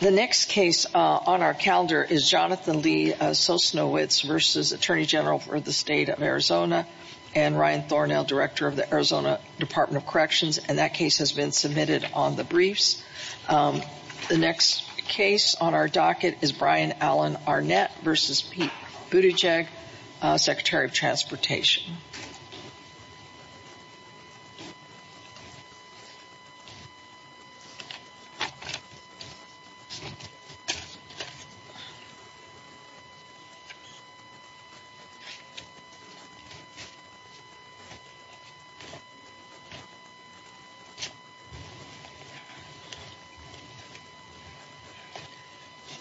The next case on our calendar is Jonathan Lee Sosnowicz v. Attorney General for the State of Arizona and Ryan Thornall, Director of the Arizona Department of Corrections, and that case has been submitted on the briefs. The next case on our docket is Brian Allen Arnett v. Pete Buttigieg, Secretary of Transportation.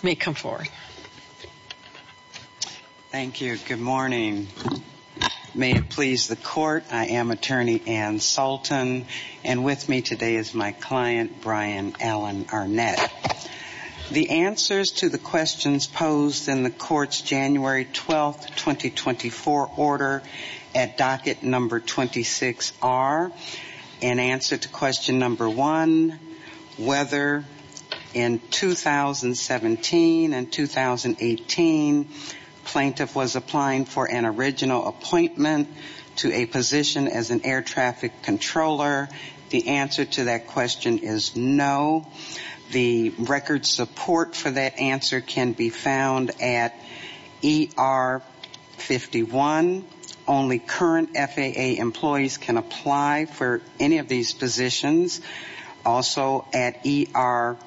You may come forward. Thank you. Good morning. May it please the court. I am Attorney Ann Sultan, and with me today is my client, Brian Allen Arnett. The answers to the questions posed in the court's January 12, 2024, order at docket number 26 are in answer to question number one, whether in 2017 and 2018 plaintiff was applying for an original appointment to a position as an air traffic controller. The answer to that question is no. The record support for that answer can be found at ER 51. Only current FAA employees can apply for any of these positions. Also at ER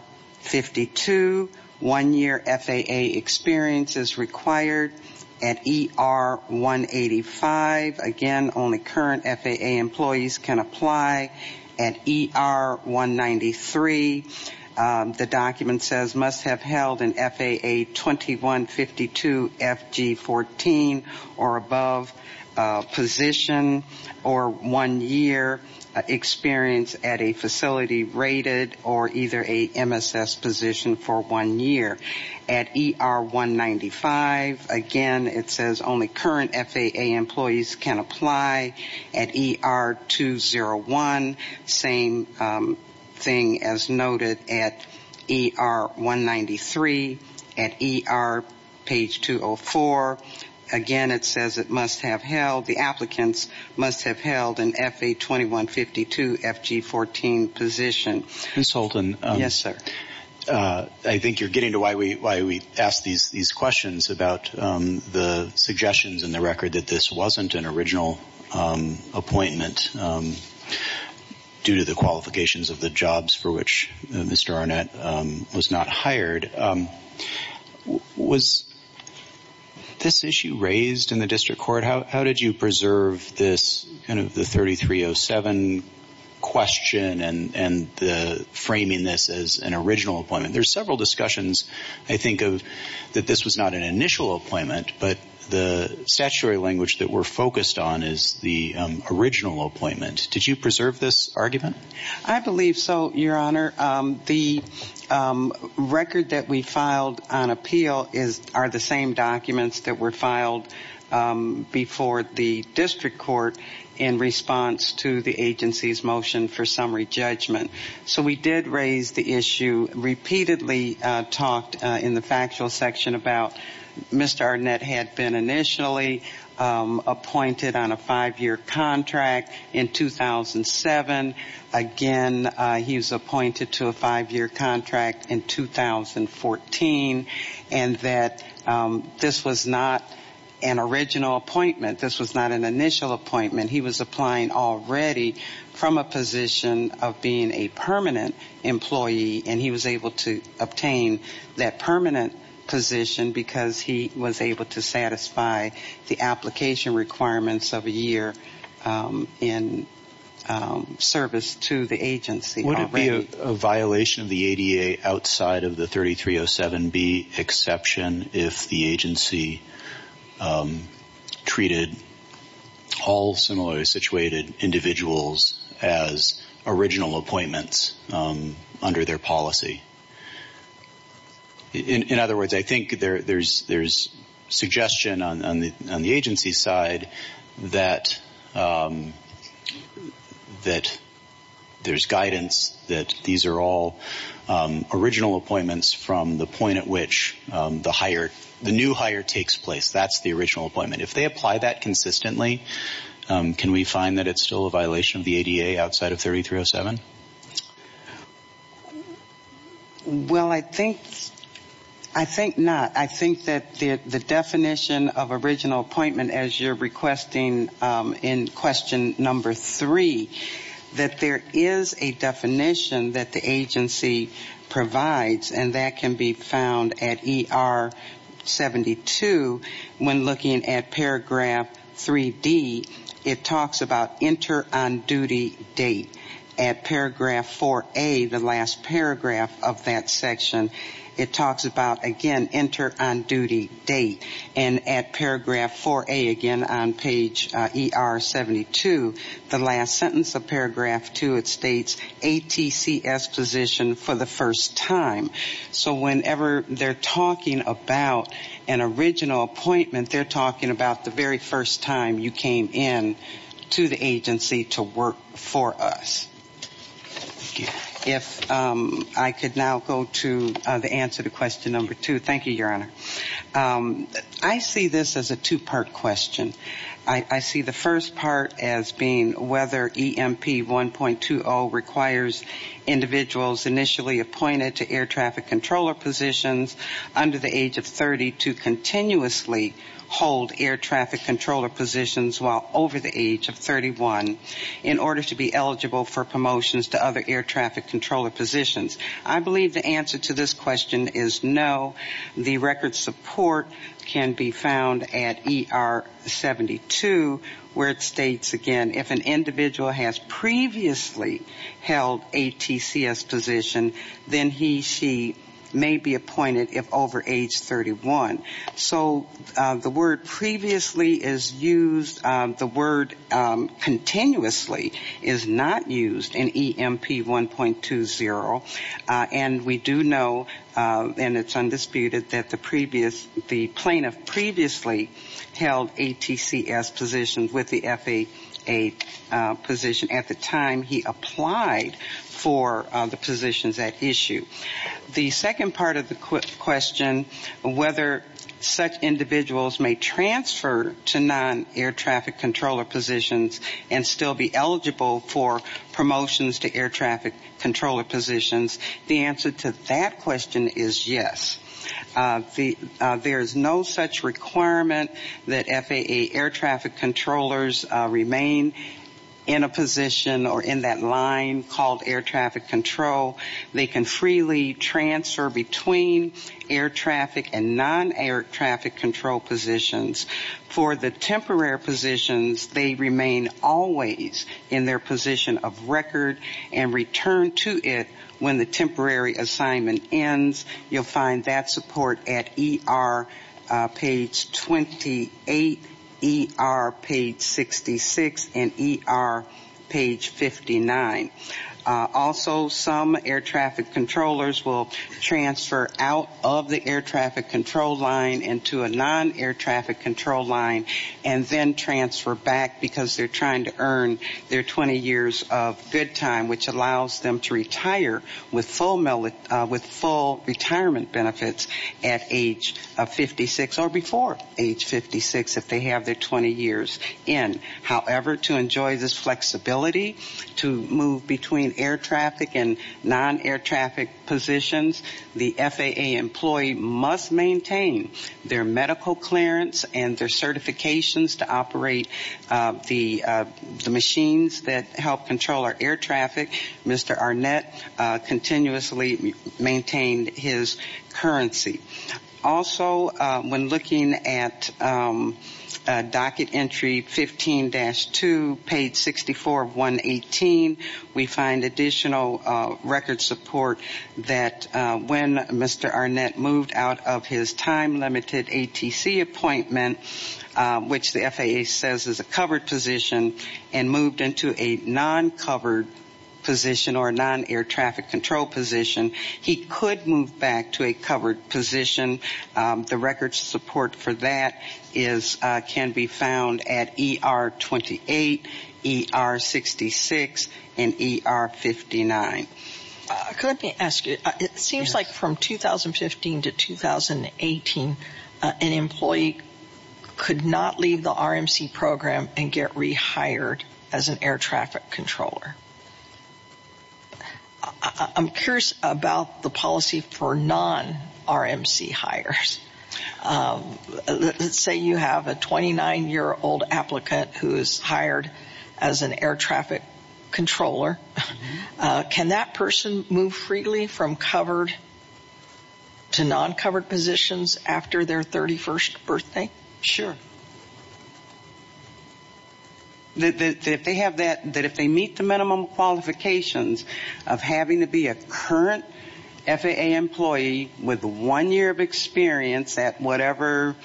52, one-year FAA experience is required. At ER 185, again, only current FAA employees can apply. At ER 193, the document says must have held an FAA 2152 FG14 or above position or one-year experience at a facility rated or either a MSS position for one year. At ER 195, again, it says only current FAA employees can apply. At ER 201, same thing as noted at ER 193. At ER page 204, again, it says it must have held, the applicants must have held an FAA 2152 FG14 position. Ms. Holton, I think you're getting to why we ask these questions about the suggestions in the record that this wasn't an original appointment due to the qualifications of the jobs for which Mr. Arnett was not hired. Was this issue raised in the district court? How did you preserve this kind of the 3307 question and the framing this as an original appointment? There's several discussions, I think, of that this was not an initial appointment, but the statutory language that we're focused on is the original appointment. Did you preserve this argument? I believe so, Your Honor. The record that we filed on appeal are the same documents that were filed before the district court in response to the agency's motion for summary judgment. So we did raise the issue, repeatedly talked in the factual section about Mr. Arnett had been initially appointed on a five-year contract in 2007. Again, he was appointed to a five-year contract in 2014. And that this was not an original appointment. This was not an initial appointment. He was applying already from a position of being a permanent employee, and he was able to obtain that permanent position because he was able to satisfy the application requirements of a year in service to the agency already. Is there a violation of the ADA outside of the 3307B exception if the agency treated all similarly situated individuals as original appointments under their policy? In other words, I think there's suggestion on the agency's side that there's guidance that these are all original appointments from the point at which the new hire takes place. That's the original appointment. If they apply that consistently, can we find that it's still a violation of the ADA outside of 3307? Well, I think not. I think that the definition of original appointment, as you're requesting in question number three, that there is a definition that the agency provides, and that can be found at ER 72 when looking at paragraph 3D. It talks about enter on duty date. At paragraph 4A, the last paragraph of that section, it talks about, again, enter on duty date. And at paragraph 4A, again, on page ER 72, the last sentence of paragraph 2, it states ATCS position for the first time. So whenever they're talking about an original appointment, they're talking about the very first time you came in to the agency to work for us. If I could now go to the answer to question number two. Thank you, Your Honor. I see this as a two-part question. I see the first part as being whether EMP 1.20 requires individuals initially appointed to air traffic controller positions under the age of 30 to continuously hold air traffic controller positions while over the age of 31 in order to be eligible for promotions to other air traffic controller positions. I believe the answer to this question is no. The record support can be found at ER 72 where it states, again, if an individual has previously held ATCS position, then he, she may be appointed if over age 31. So the word previously is used. The word continuously is not used in EMP 1.20. And we do know, and it's undisputed, that the plaintiff previously held ATCS positions with the FAA position at the time he applied for the positions at issue. The second part of the question, whether such individuals may transfer to non-air traffic controller positions and still be eligible for promotions to air traffic controller positions, the answer to that question is yes. There is no such requirement that FAA air traffic controllers remain in a position or in that line called air traffic control. They can freely transfer between air traffic and non-air traffic control positions. For the temporary positions, they remain always in their position of record and return to it when the temporary assignment ends. You'll find that support at ER page 28, ER page 66, and ER page 59. Also, some air traffic controllers will transfer out of the air traffic control line into a non-air traffic control line and then transfer back because they're trying to earn their 20 years of good time, which allows them to retire with full retirement benefits at age 56 or before age 56 if they have their 20 years in. However, to enjoy this flexibility to move between air traffic and non-air traffic positions, the FAA employee must maintain their medical clearance and their certifications to operate the machines that help control our air traffic. Mr. Arnett continuously maintained his currency. Also, when looking at docket entry 15-2, page 64 of 118, we find additional record support that when Mr. Arnett moved out of his time-limited ATC appointment, which the FAA says is a covered position, and moved into a non-covered position or a non-air traffic control position, he could move back to a covered position. The record support for that can be found at ER 28, ER 66, and ER 59. Let me ask you, it seems like from 2015 to 2018, an employee could not leave the RMC program and get rehired as an air traffic controller. I'm curious about the policy for non-RMC hires. Let's say you have a 29-year-old applicant who is hired as an air traffic controller. Can that person move freely from covered to non-covered positions after their 31st birthday? Sure. That if they meet the minimum qualifications of having to be a current FAA employee with one year of experience at whatever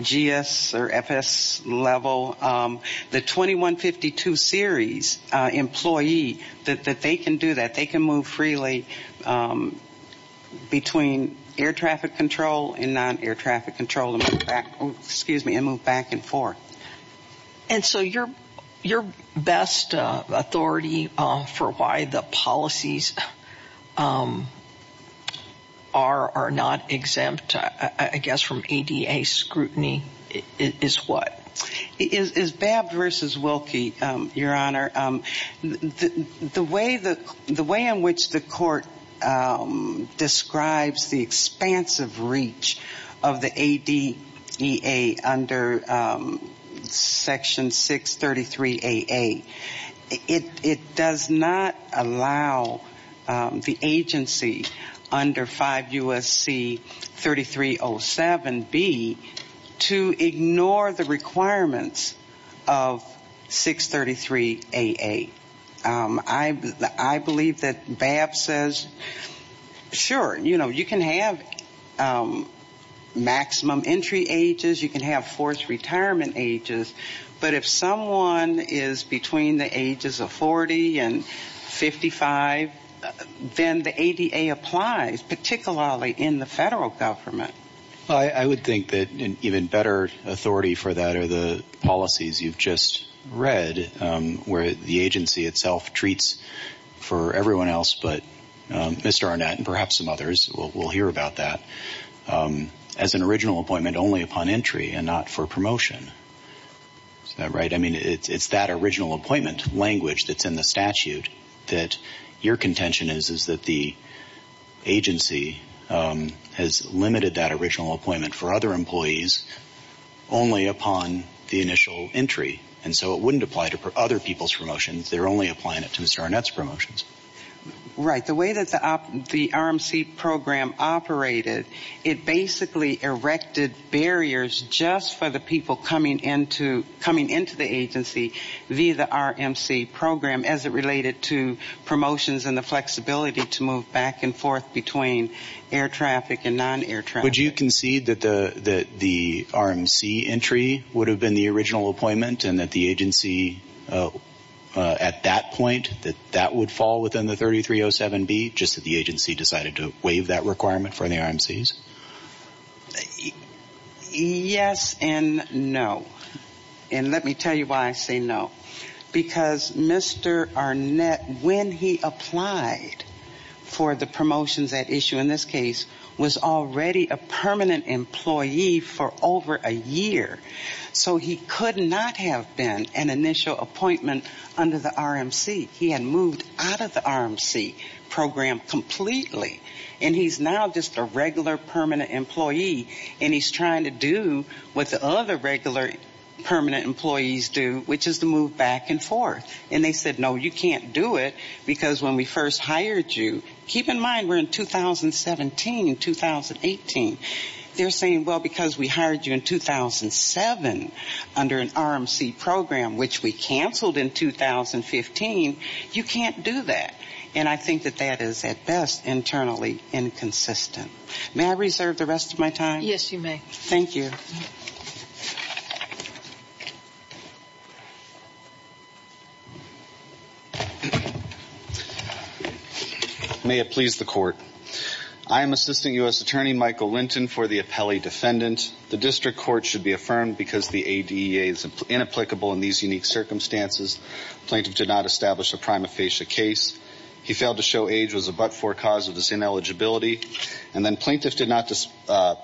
GS or FS level, the 21-52 series employee, that they can do that. And so your best authority for why the policies are not exempt, I guess, from ADA scrutiny is what? Is Babb v. Wilkie, Your Honor. The way in which the court describes the expansive reach of the ADA under Section 633AA, it does not allow the agency under 5 U.S.C. 3307B to ignore the requirements of 633AA. I believe that Babb says, sure, you know, you can have maximum entry ages, you can have forced retirement ages, but if someone is between the ages of 40 and 55, then the ADA applies, particularly in the federal government. I would think that an even better authority for that are the policies you've just read, where the agency itself treats for everyone else but Mr. Arnett and perhaps some others, we'll hear about that, as an original appointment only upon entry and not for promotion. Is that right? I mean, it's that original appointment language that's in the statute that your contention is, is that the agency has limited that original appointment for other employees only upon the initial entry. And so it wouldn't apply to other people's promotions. They're only applying it to Mr. Arnett's promotions. Right. The way that the RMC program operated, it basically erected barriers just for the people coming into the agency via the RMC program as it related to promotions and the flexibility to move back and forth between air traffic and non-air traffic. Would you concede that the RMC entry would have been the original appointment and that the agency at that point, that that would fall within the 3307B, just that the agency decided to waive that requirement for the RMCs? Yes and no. And let me tell you why I say no. Because Mr. Arnett, when he applied for the promotions at issue in this case, was already a permanent employee for over a year. So he could not have been an initial appointment under the RMC. He had moved out of the RMC program completely. And he's now just a regular permanent employee. And he's trying to do what the other regular permanent employees do, which is to move back and forth. And they said, no, you can't do it. Because when we first hired you, keep in mind we're in 2017, 2018. They're saying, well, because we hired you in 2007 under an RMC program, which we canceled in 2015, you can't do that. And I think that that is at best internally inconsistent. May I reserve the rest of my time? Yes, you may. Thank you. May it please the court. I am Assistant U.S. Attorney Michael Linton for the appellee defendant. The district court should be affirmed because the ADA is inapplicable in these unique circumstances. Plaintiff did not establish a prima facie case. He failed to show age was a but-for cause of his ineligibility. And then plaintiff did not just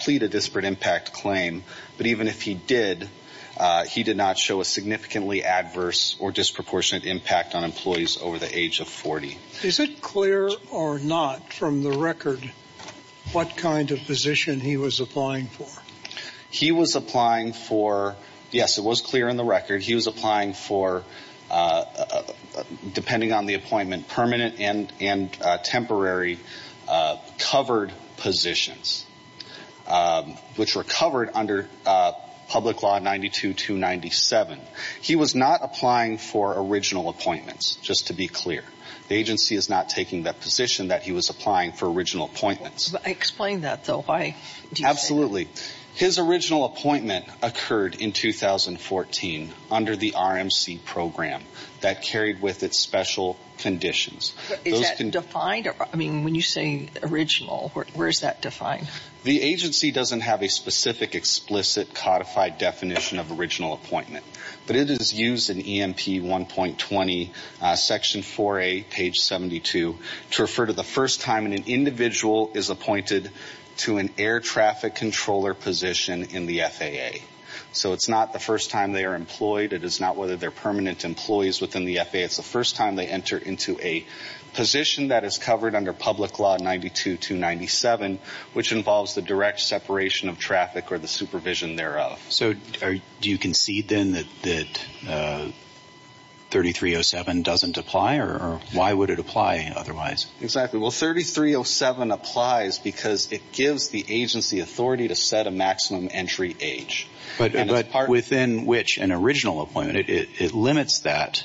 plead a disparate impact claim. But even if he did, he did not show a significantly adverse or disproportionate impact on employees over the age of 40. Is it clear or not from the record what kind of position he was applying for? He was applying for, yes, it was clear in the record, he was applying for, depending on the appointment, permanent and temporary covered positions, which were covered under Public Law 92-97. He was not applying for original appointments, just to be clear. The agency is not taking that position that he was applying for original appointments. Explain that, though. Why do you say that? Absolutely. His original appointment occurred in 2014 under the RMC program that carried with it special conditions. Is that defined? I mean, when you say original, where is that defined? The agency doesn't have a specific, explicit, codified definition of original appointment. But it is used in EMP 1.20, section 4A, page 72, to refer to the first time an individual is appointed to an air traffic controller position in the FAA. So it's not the first time they are employed. It is not whether they're permanent employees within the FAA. It's the first time they enter into a position that is covered under Public Law 92-97, which involves the direct separation of traffic or the supervision thereof. So do you concede, then, that 3307 doesn't apply? Or why would it apply otherwise? Exactly. Well, 3307 applies because it gives the agency authority to set a maximum entry age. But within which, an original appointment, it limits that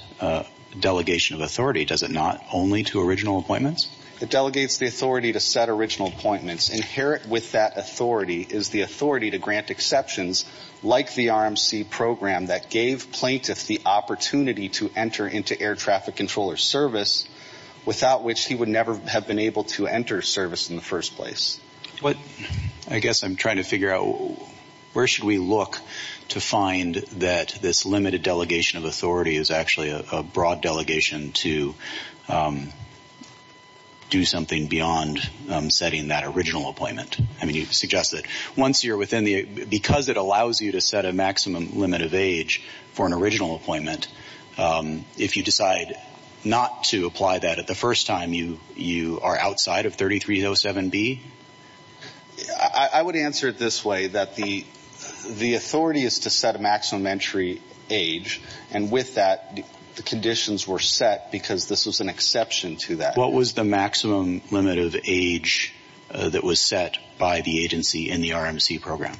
delegation of authority, does it not, only to original appointments? It delegates the authority to set original appointments. Inherent with that authority is the authority to grant exceptions, like the RMC program that gave plaintiffs the opportunity to enter into air traffic controller service, without which he would never have been able to enter service in the first place. I guess I'm trying to figure out, where should we look to find that this limited delegation of authority is actually a broad delegation to do something beyond setting that original appointment? I mean, you suggest that once you're within the, because it allows you to set a maximum limit of age for an original appointment, if you decide not to apply that at the first time, you are outside of 3307B? I would answer it this way, that the authority is to set a maximum entry age, and with that, the conditions were set because this was an exception to that. What was the maximum limit of age that was set by the agency in the RMC program?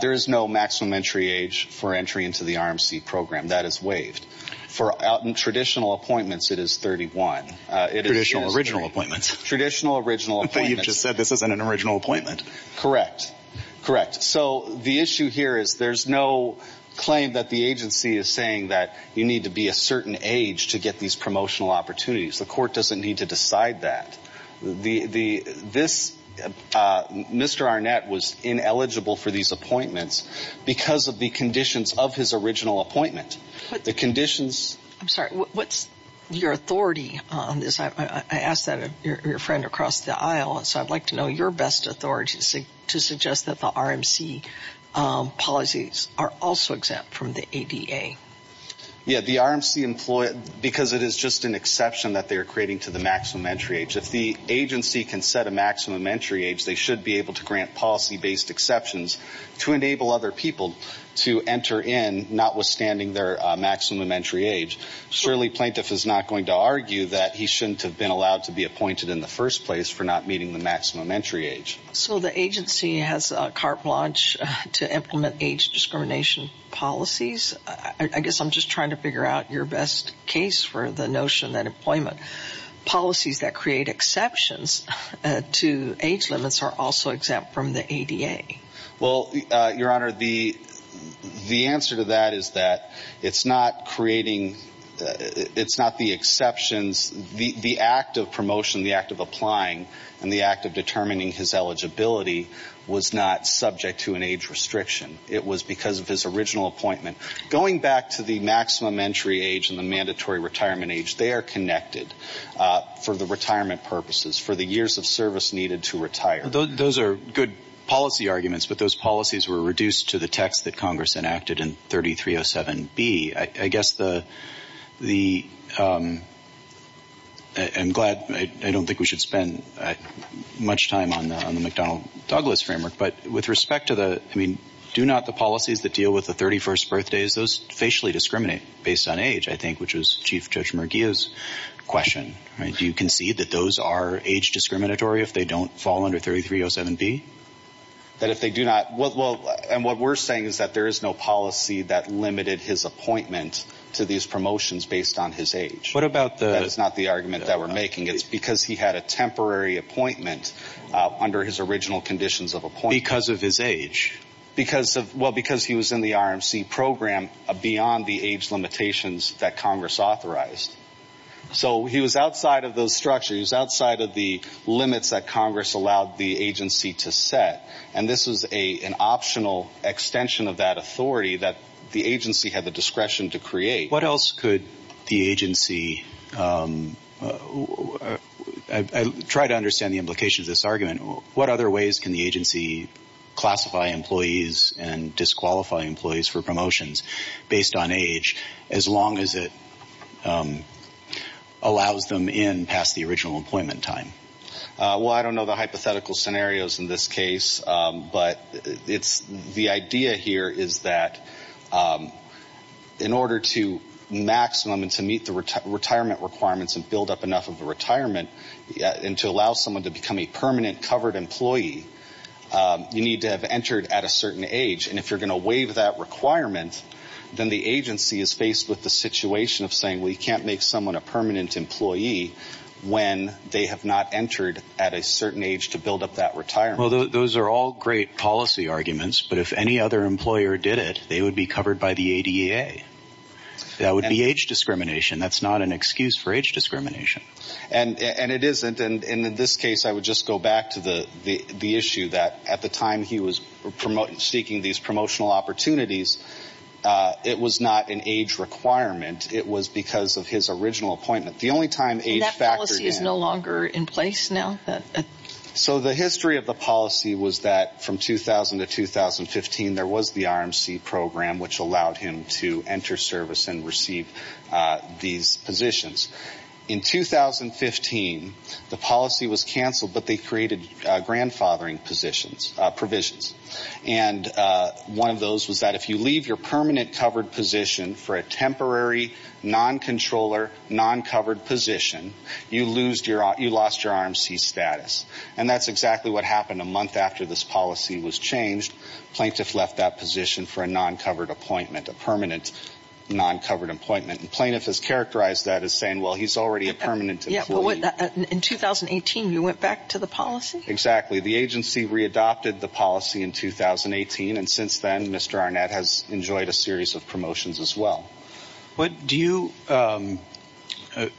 There is no maximum entry age for entry into the RMC program. That is waived. For traditional appointments, it is 31. Traditional original appointments. Traditional original appointments. But you just said this isn't an original appointment. Correct. Correct. So the issue here is there's no claim that the agency is saying that you need to be a certain age to get these promotional opportunities. The court doesn't need to decide that. The, this, Mr. Arnett was ineligible for these appointments because of the conditions of his original appointment. I'm sorry, what's your authority on this? I asked that of your friend across the aisle, so I'd like to know your best authority to suggest that the RMC policies are also exempt from the ADA. Yeah, the RMC, because it is just an exception that they are creating to the maximum entry age. If the agency can set a maximum entry age, they should be able to grant policy-based exceptions to enable other people to enter in, notwithstanding their maximum entry age. Surely plaintiff is not going to argue that he shouldn't have been allowed to be appointed in the first place for not meeting the maximum entry age. So the agency has carte blanche to implement age discrimination policies. I guess I'm just trying to figure out your best case for the notion that employment policies that create exceptions to age limits are also exempt from the ADA. Well, Your Honor, the answer to that is that it's not creating, it's not the exceptions, the act of promotion, the act of applying, and the act of determining his eligibility was not subject to an age restriction. It was because of his original appointment. Going back to the maximum entry age and the mandatory retirement age, they are connected for the retirement purposes, for the years of service needed to retire. Those are good policy arguments, but those policies were reduced to the text that Congress enacted in 3307B. I guess the – I'm glad – I don't think we should spend much time on the McDonnell-Douglas framework, but with respect to the – I mean, do not the policies that deal with the 31st birthdays, those facially discriminate based on age, I think, which was Chief Judge Murguia's question. Do you concede that those are age discriminatory if they don't fall under 3307B? That if they do not – well, and what we're saying is that there is no policy that limited his appointment to these promotions based on his age. What about the – That is not the argument that we're making. It's because he had a temporary appointment under his original conditions of appointment. Because of his age? Because of – well, because he was in the RMC program beyond the age limitations that Congress authorized. So he was outside of those structures, outside of the limits that Congress allowed the agency to set, and this was an optional extension of that authority that the agency had the discretion to create. What else could the agency – I try to understand the implications of this argument. What other ways can the agency classify employees and disqualify employees for promotions based on age as long as it allows them in past the original appointment time? Well, I don't know the hypothetical scenarios in this case, but it's – the idea here is that in order to maximum and to meet the retirement requirements and build up enough of a retirement and to allow someone to become a permanent covered employee, you need to have entered at a certain age. And if you're going to waive that requirement, then the agency is faced with the situation of saying, well, you can't make someone a permanent employee when they have not entered at a certain age to build up that retirement. Well, those are all great policy arguments, but if any other employer did it, they would be covered by the ADA. That would be age discrimination. That's not an excuse for age discrimination. And it isn't. And in this case, I would just go back to the issue that at the time he was seeking these promotional opportunities, it was not an age requirement. It was because of his original appointment. The only time age factored in – And that policy is no longer in place now? So the history of the policy was that from 2000 to 2015, there was the RMC program, which allowed him to enter service and receive these positions. In 2015, the policy was canceled, but they created grandfathering provisions. And one of those was that if you leave your permanent covered position for a temporary non-controller, non-covered position, you lost your RMC status. And that's exactly what happened a month after this policy was changed. Plaintiff left that position for a non-covered appointment, a permanent non-covered appointment. And plaintiff has characterized that as saying, well, he's already a permanent employee. In 2018, you went back to the policy? Exactly. The agency readopted the policy in 2018, and since then, Mr. Arnett has enjoyed a series of promotions as well. Do you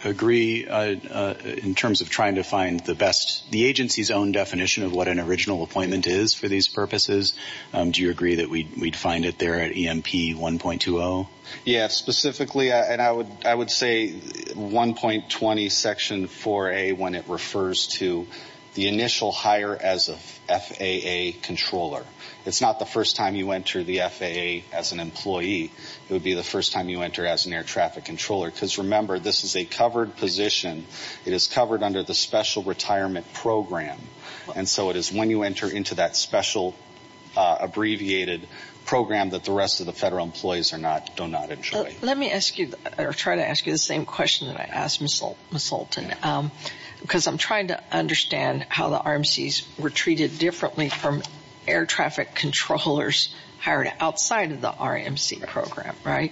agree in terms of trying to find the best – the agency's own definition of what an original appointment is for these purposes? Do you agree that we'd find it there at EMP 1.20? Yeah, specifically, and I would say 1.20 Section 4A when it refers to the initial hire as a FAA controller. It's not the first time you enter the FAA as an employee. It would be the first time you enter as an air traffic controller, because remember, this is a covered position. It is covered under the Special Retirement Program. And so it is when you enter into that special abbreviated program that the rest of the federal employees are not – do not enjoy. Let me ask you – or try to ask you the same question that I asked Ms. Holton, because I'm trying to understand how the RMCs were treated differently from air traffic controllers hired outside of the RMC program, right?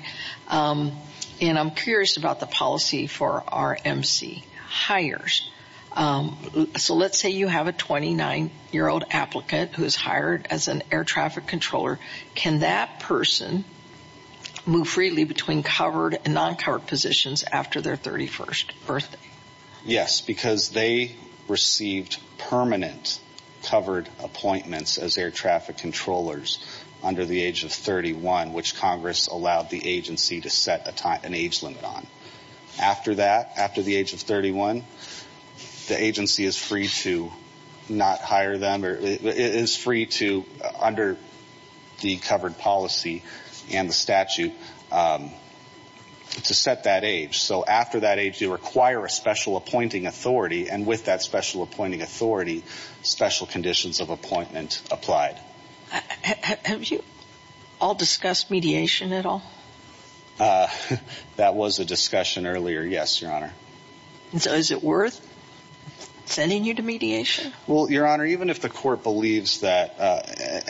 And I'm curious about the policy for RMC hires. So let's say you have a 29-year-old applicant who is hired as an air traffic controller. Can that person move freely between covered and non-covered positions after their 31st birthday? Yes, because they received permanent covered appointments as air traffic controllers under the age of 31, which Congress allowed the agency to set an age limit on. After that, after the age of 31, the agency is free to not hire them – is free to, under the covered policy and the statute, to set that age. So after that age, you require a special appointing authority, and with that special appointing authority, special conditions of appointment applied. Have you all discussed mediation at all? That was a discussion earlier, yes, Your Honor. So is it worth sending you to mediation? Well, Your Honor, even if the court believes that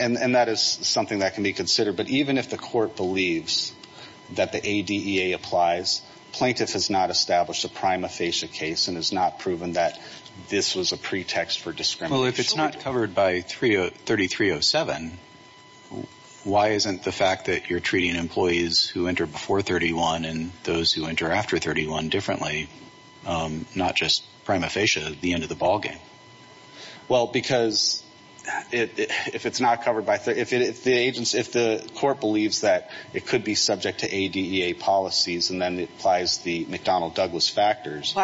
– and that is something that can be considered – but even if the court believes that the ADEA applies, plaintiff has not established a prima facie case and has not proven that this was a pretext for discrimination. Well, if it's not covered by 3307, why isn't the fact that you're treating employees who enter before 31 and those who enter after 31 differently, not just prima facie, the end of the ballgame? Well, because if it's not covered by – if the agency – if the court believes that it could be subject to ADEA policies and then it applies the McDonnell-Douglas factors –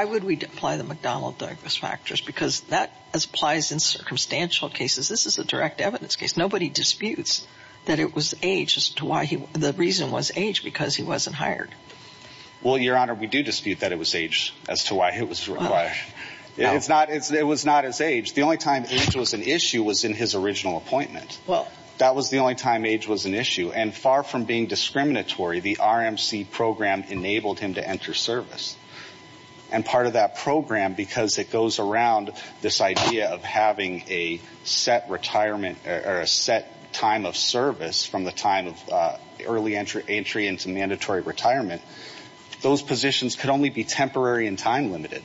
this is a direct evidence case. Nobody disputes that it was age as to why he – the reason was age, because he wasn't hired. Well, Your Honor, we do dispute that it was age as to why he was required. It's not – it was not his age. The only time age was an issue was in his original appointment. Well – That was the only time age was an issue. And far from being discriminatory, the RMC program enabled him to enter service. And part of that program, because it goes around this idea of having a set retirement – or a set time of service from the time of early entry into mandatory retirement, those positions could only be temporary and time-limited.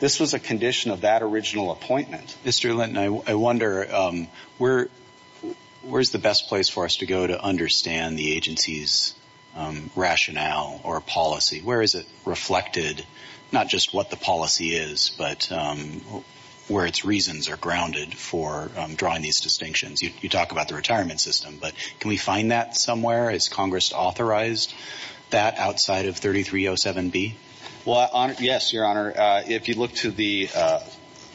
This was a condition of that original appointment. Mr. Linton, I wonder where's the best place for us to go to understand the agency's rationale or policy? Where is it reflected, not just what the policy is, but where its reasons are grounded for drawing these distinctions? You talk about the retirement system, but can we find that somewhere? Is Congress authorized that outside of 3307B? Well, yes, Your Honor. Your Honor, if you look to the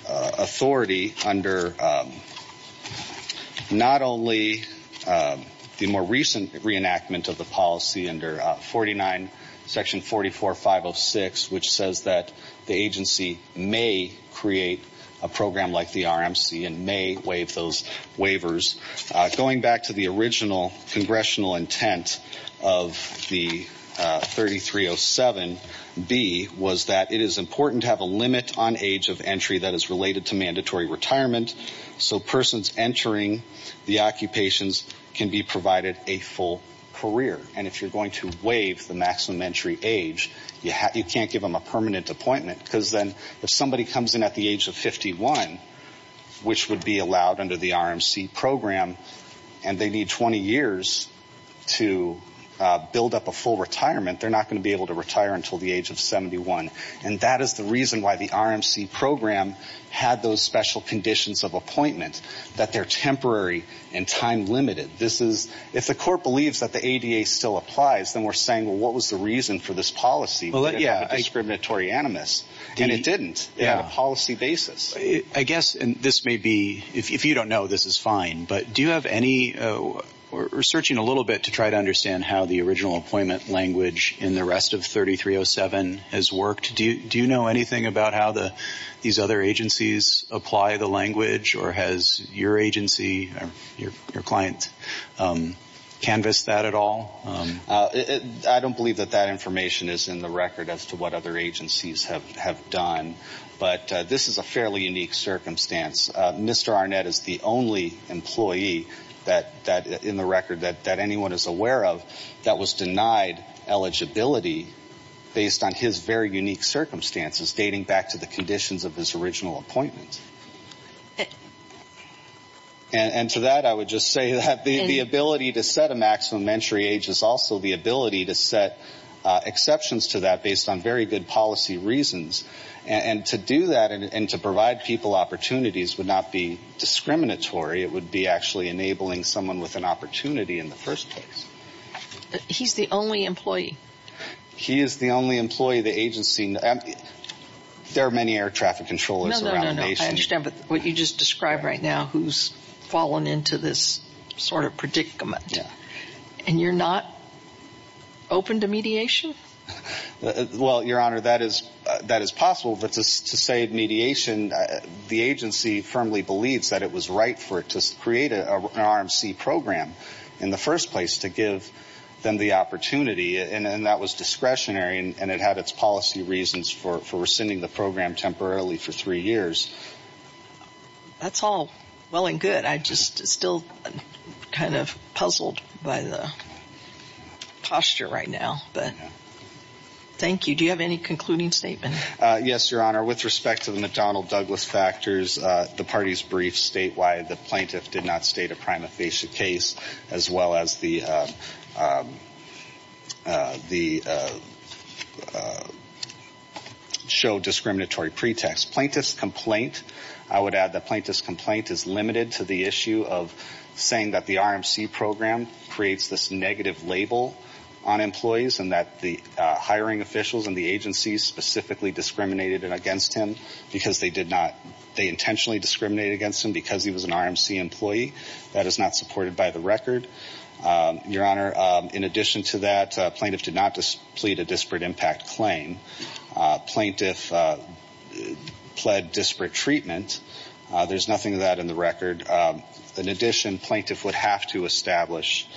authority under not only the more recent reenactment of the policy under 49 – Section 44-506, which says that the agency may create a program like the RMC and may waive those waivers. Going back to the original congressional intent of 3307B, was that it is important to have a limit on age of entry that is related to mandatory retirement. So persons entering the occupations can be provided a full career. And if you're going to waive the maximum entry age, you can't give them a permanent appointment. Because then if somebody comes in at the age of 51, which would be allowed under the RMC program, and they need 20 years to build up a full retirement, they're not going to be able to retire until the age of 71. And that is the reason why the RMC program had those special conditions of appointment, that they're temporary and time limited. If the court believes that the ADA still applies, then we're saying, well, what was the reason for this policy? It was discriminatory animus. And it didn't. It had a policy basis. I guess this may be – if you don't know, this is fine. But do you have any – we're searching a little bit to try to understand how the original appointment language in the rest of 3307 has worked. Do you know anything about how these other agencies apply the language? Or has your agency or your client canvassed that at all? I don't believe that that information is in the record as to what other agencies have done. But this is a fairly unique circumstance. Mr. Arnett is the only employee in the record that anyone is aware of that was denied eligibility based on his very unique circumstances dating back to the conditions of his original appointment. And to that, I would just say that the ability to set a maximum entry age is also the ability to set exceptions to that based on very good policy reasons. And to do that and to provide people opportunities would not be discriminatory. It would be actually enabling someone with an opportunity in the first place. He's the only employee. He is the only employee the agency – there are many air traffic controllers around the nation. I understand. But what you just described right now, who's fallen into this sort of predicament? And you're not open to mediation? Well, Your Honor, that is possible. But to say mediation, the agency firmly believes that it was right for it to create an RMC program in the first place to give them the opportunity. And that was discretionary, and it had its policy reasons for rescinding the program temporarily for three years. That's all well and good. I'm just still kind of puzzled by the posture right now. But thank you. Do you have any concluding statement? Yes, Your Honor. With respect to the McDonnell-Douglas factors, the party's brief statewide, the plaintiff did not state a prima facie case as well as the – show discriminatory pretext. Plaintiff's complaint, I would add the plaintiff's complaint is limited to the issue of saying that the RMC program creates this negative label on employees and that the hiring officials and the agency specifically discriminated against him because they did not – Your Honor, in addition to that, plaintiff did not plead a disparate impact claim. Plaintiff pled disparate treatment. There's nothing of that in the record. In addition, plaintiff would have to establish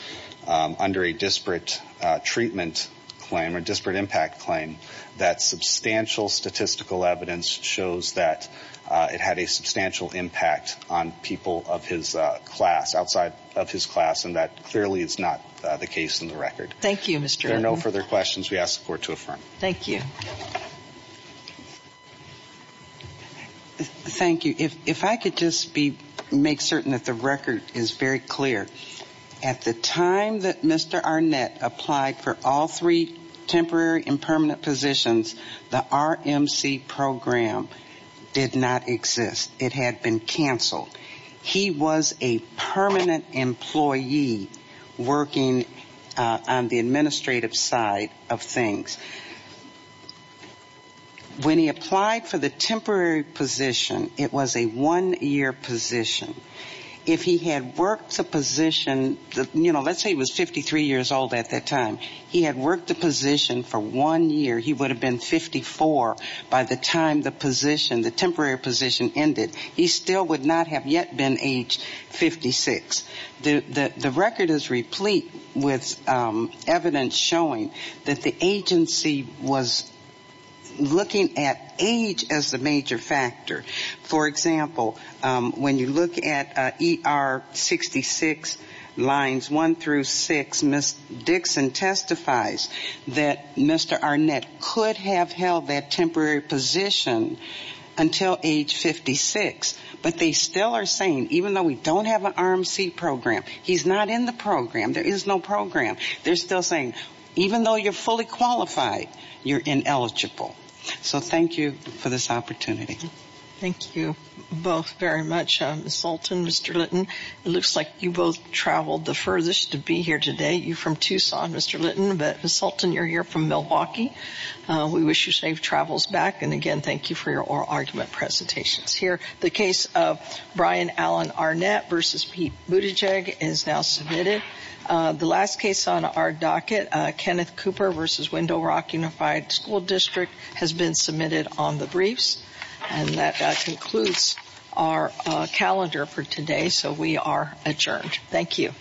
under a disparate treatment claim or disparate impact claim that substantial statistical evidence shows that it had a substantial impact on people of his class, outside of his class, and that clearly is not the case in the record. Thank you, Mr. Arnett. If there are no further questions, we ask the Court to affirm. Thank you. Thank you. If I could just be – make certain that the record is very clear. At the time that Mr. Arnett applied for all three temporary and permanent positions, the RMC program did not exist. It had been canceled. He was a permanent employee working on the administrative side of things. When he applied for the temporary position, it was a one-year position. If he had worked the position – you know, let's say he was 53 years old at that time. He had worked the position for one year. He would have been 54 by the time the position, the temporary position ended. He still would not have yet been aged 56. The record is replete with evidence showing that the agency was looking at age as the major factor. For example, when you look at ER 66 lines 1 through 6, Ms. Dixon testifies that Mr. Arnett could have held that temporary position until age 56. But they still are saying, even though we don't have an RMC program, he's not in the program. There is no program. They're still saying, even though you're fully qualified, you're ineligible. So thank you for this opportunity. Thank you both very much, Ms. Sultan and Mr. Litton. It looks like you both traveled the furthest to be here today. You're from Tucson, Mr. Litton, but Ms. Sultan, you're here from Milwaukee. We wish you safe travels back. And again, thank you for your oral argument presentations. Here, the case of Brian Allen Arnett v. Pete Buttigieg is now submitted. The last case on our docket, Kenneth Cooper v. Window Rock Unified School District, has been submitted on the briefs. And that concludes our calendar for today. So we are adjourned. Thank you.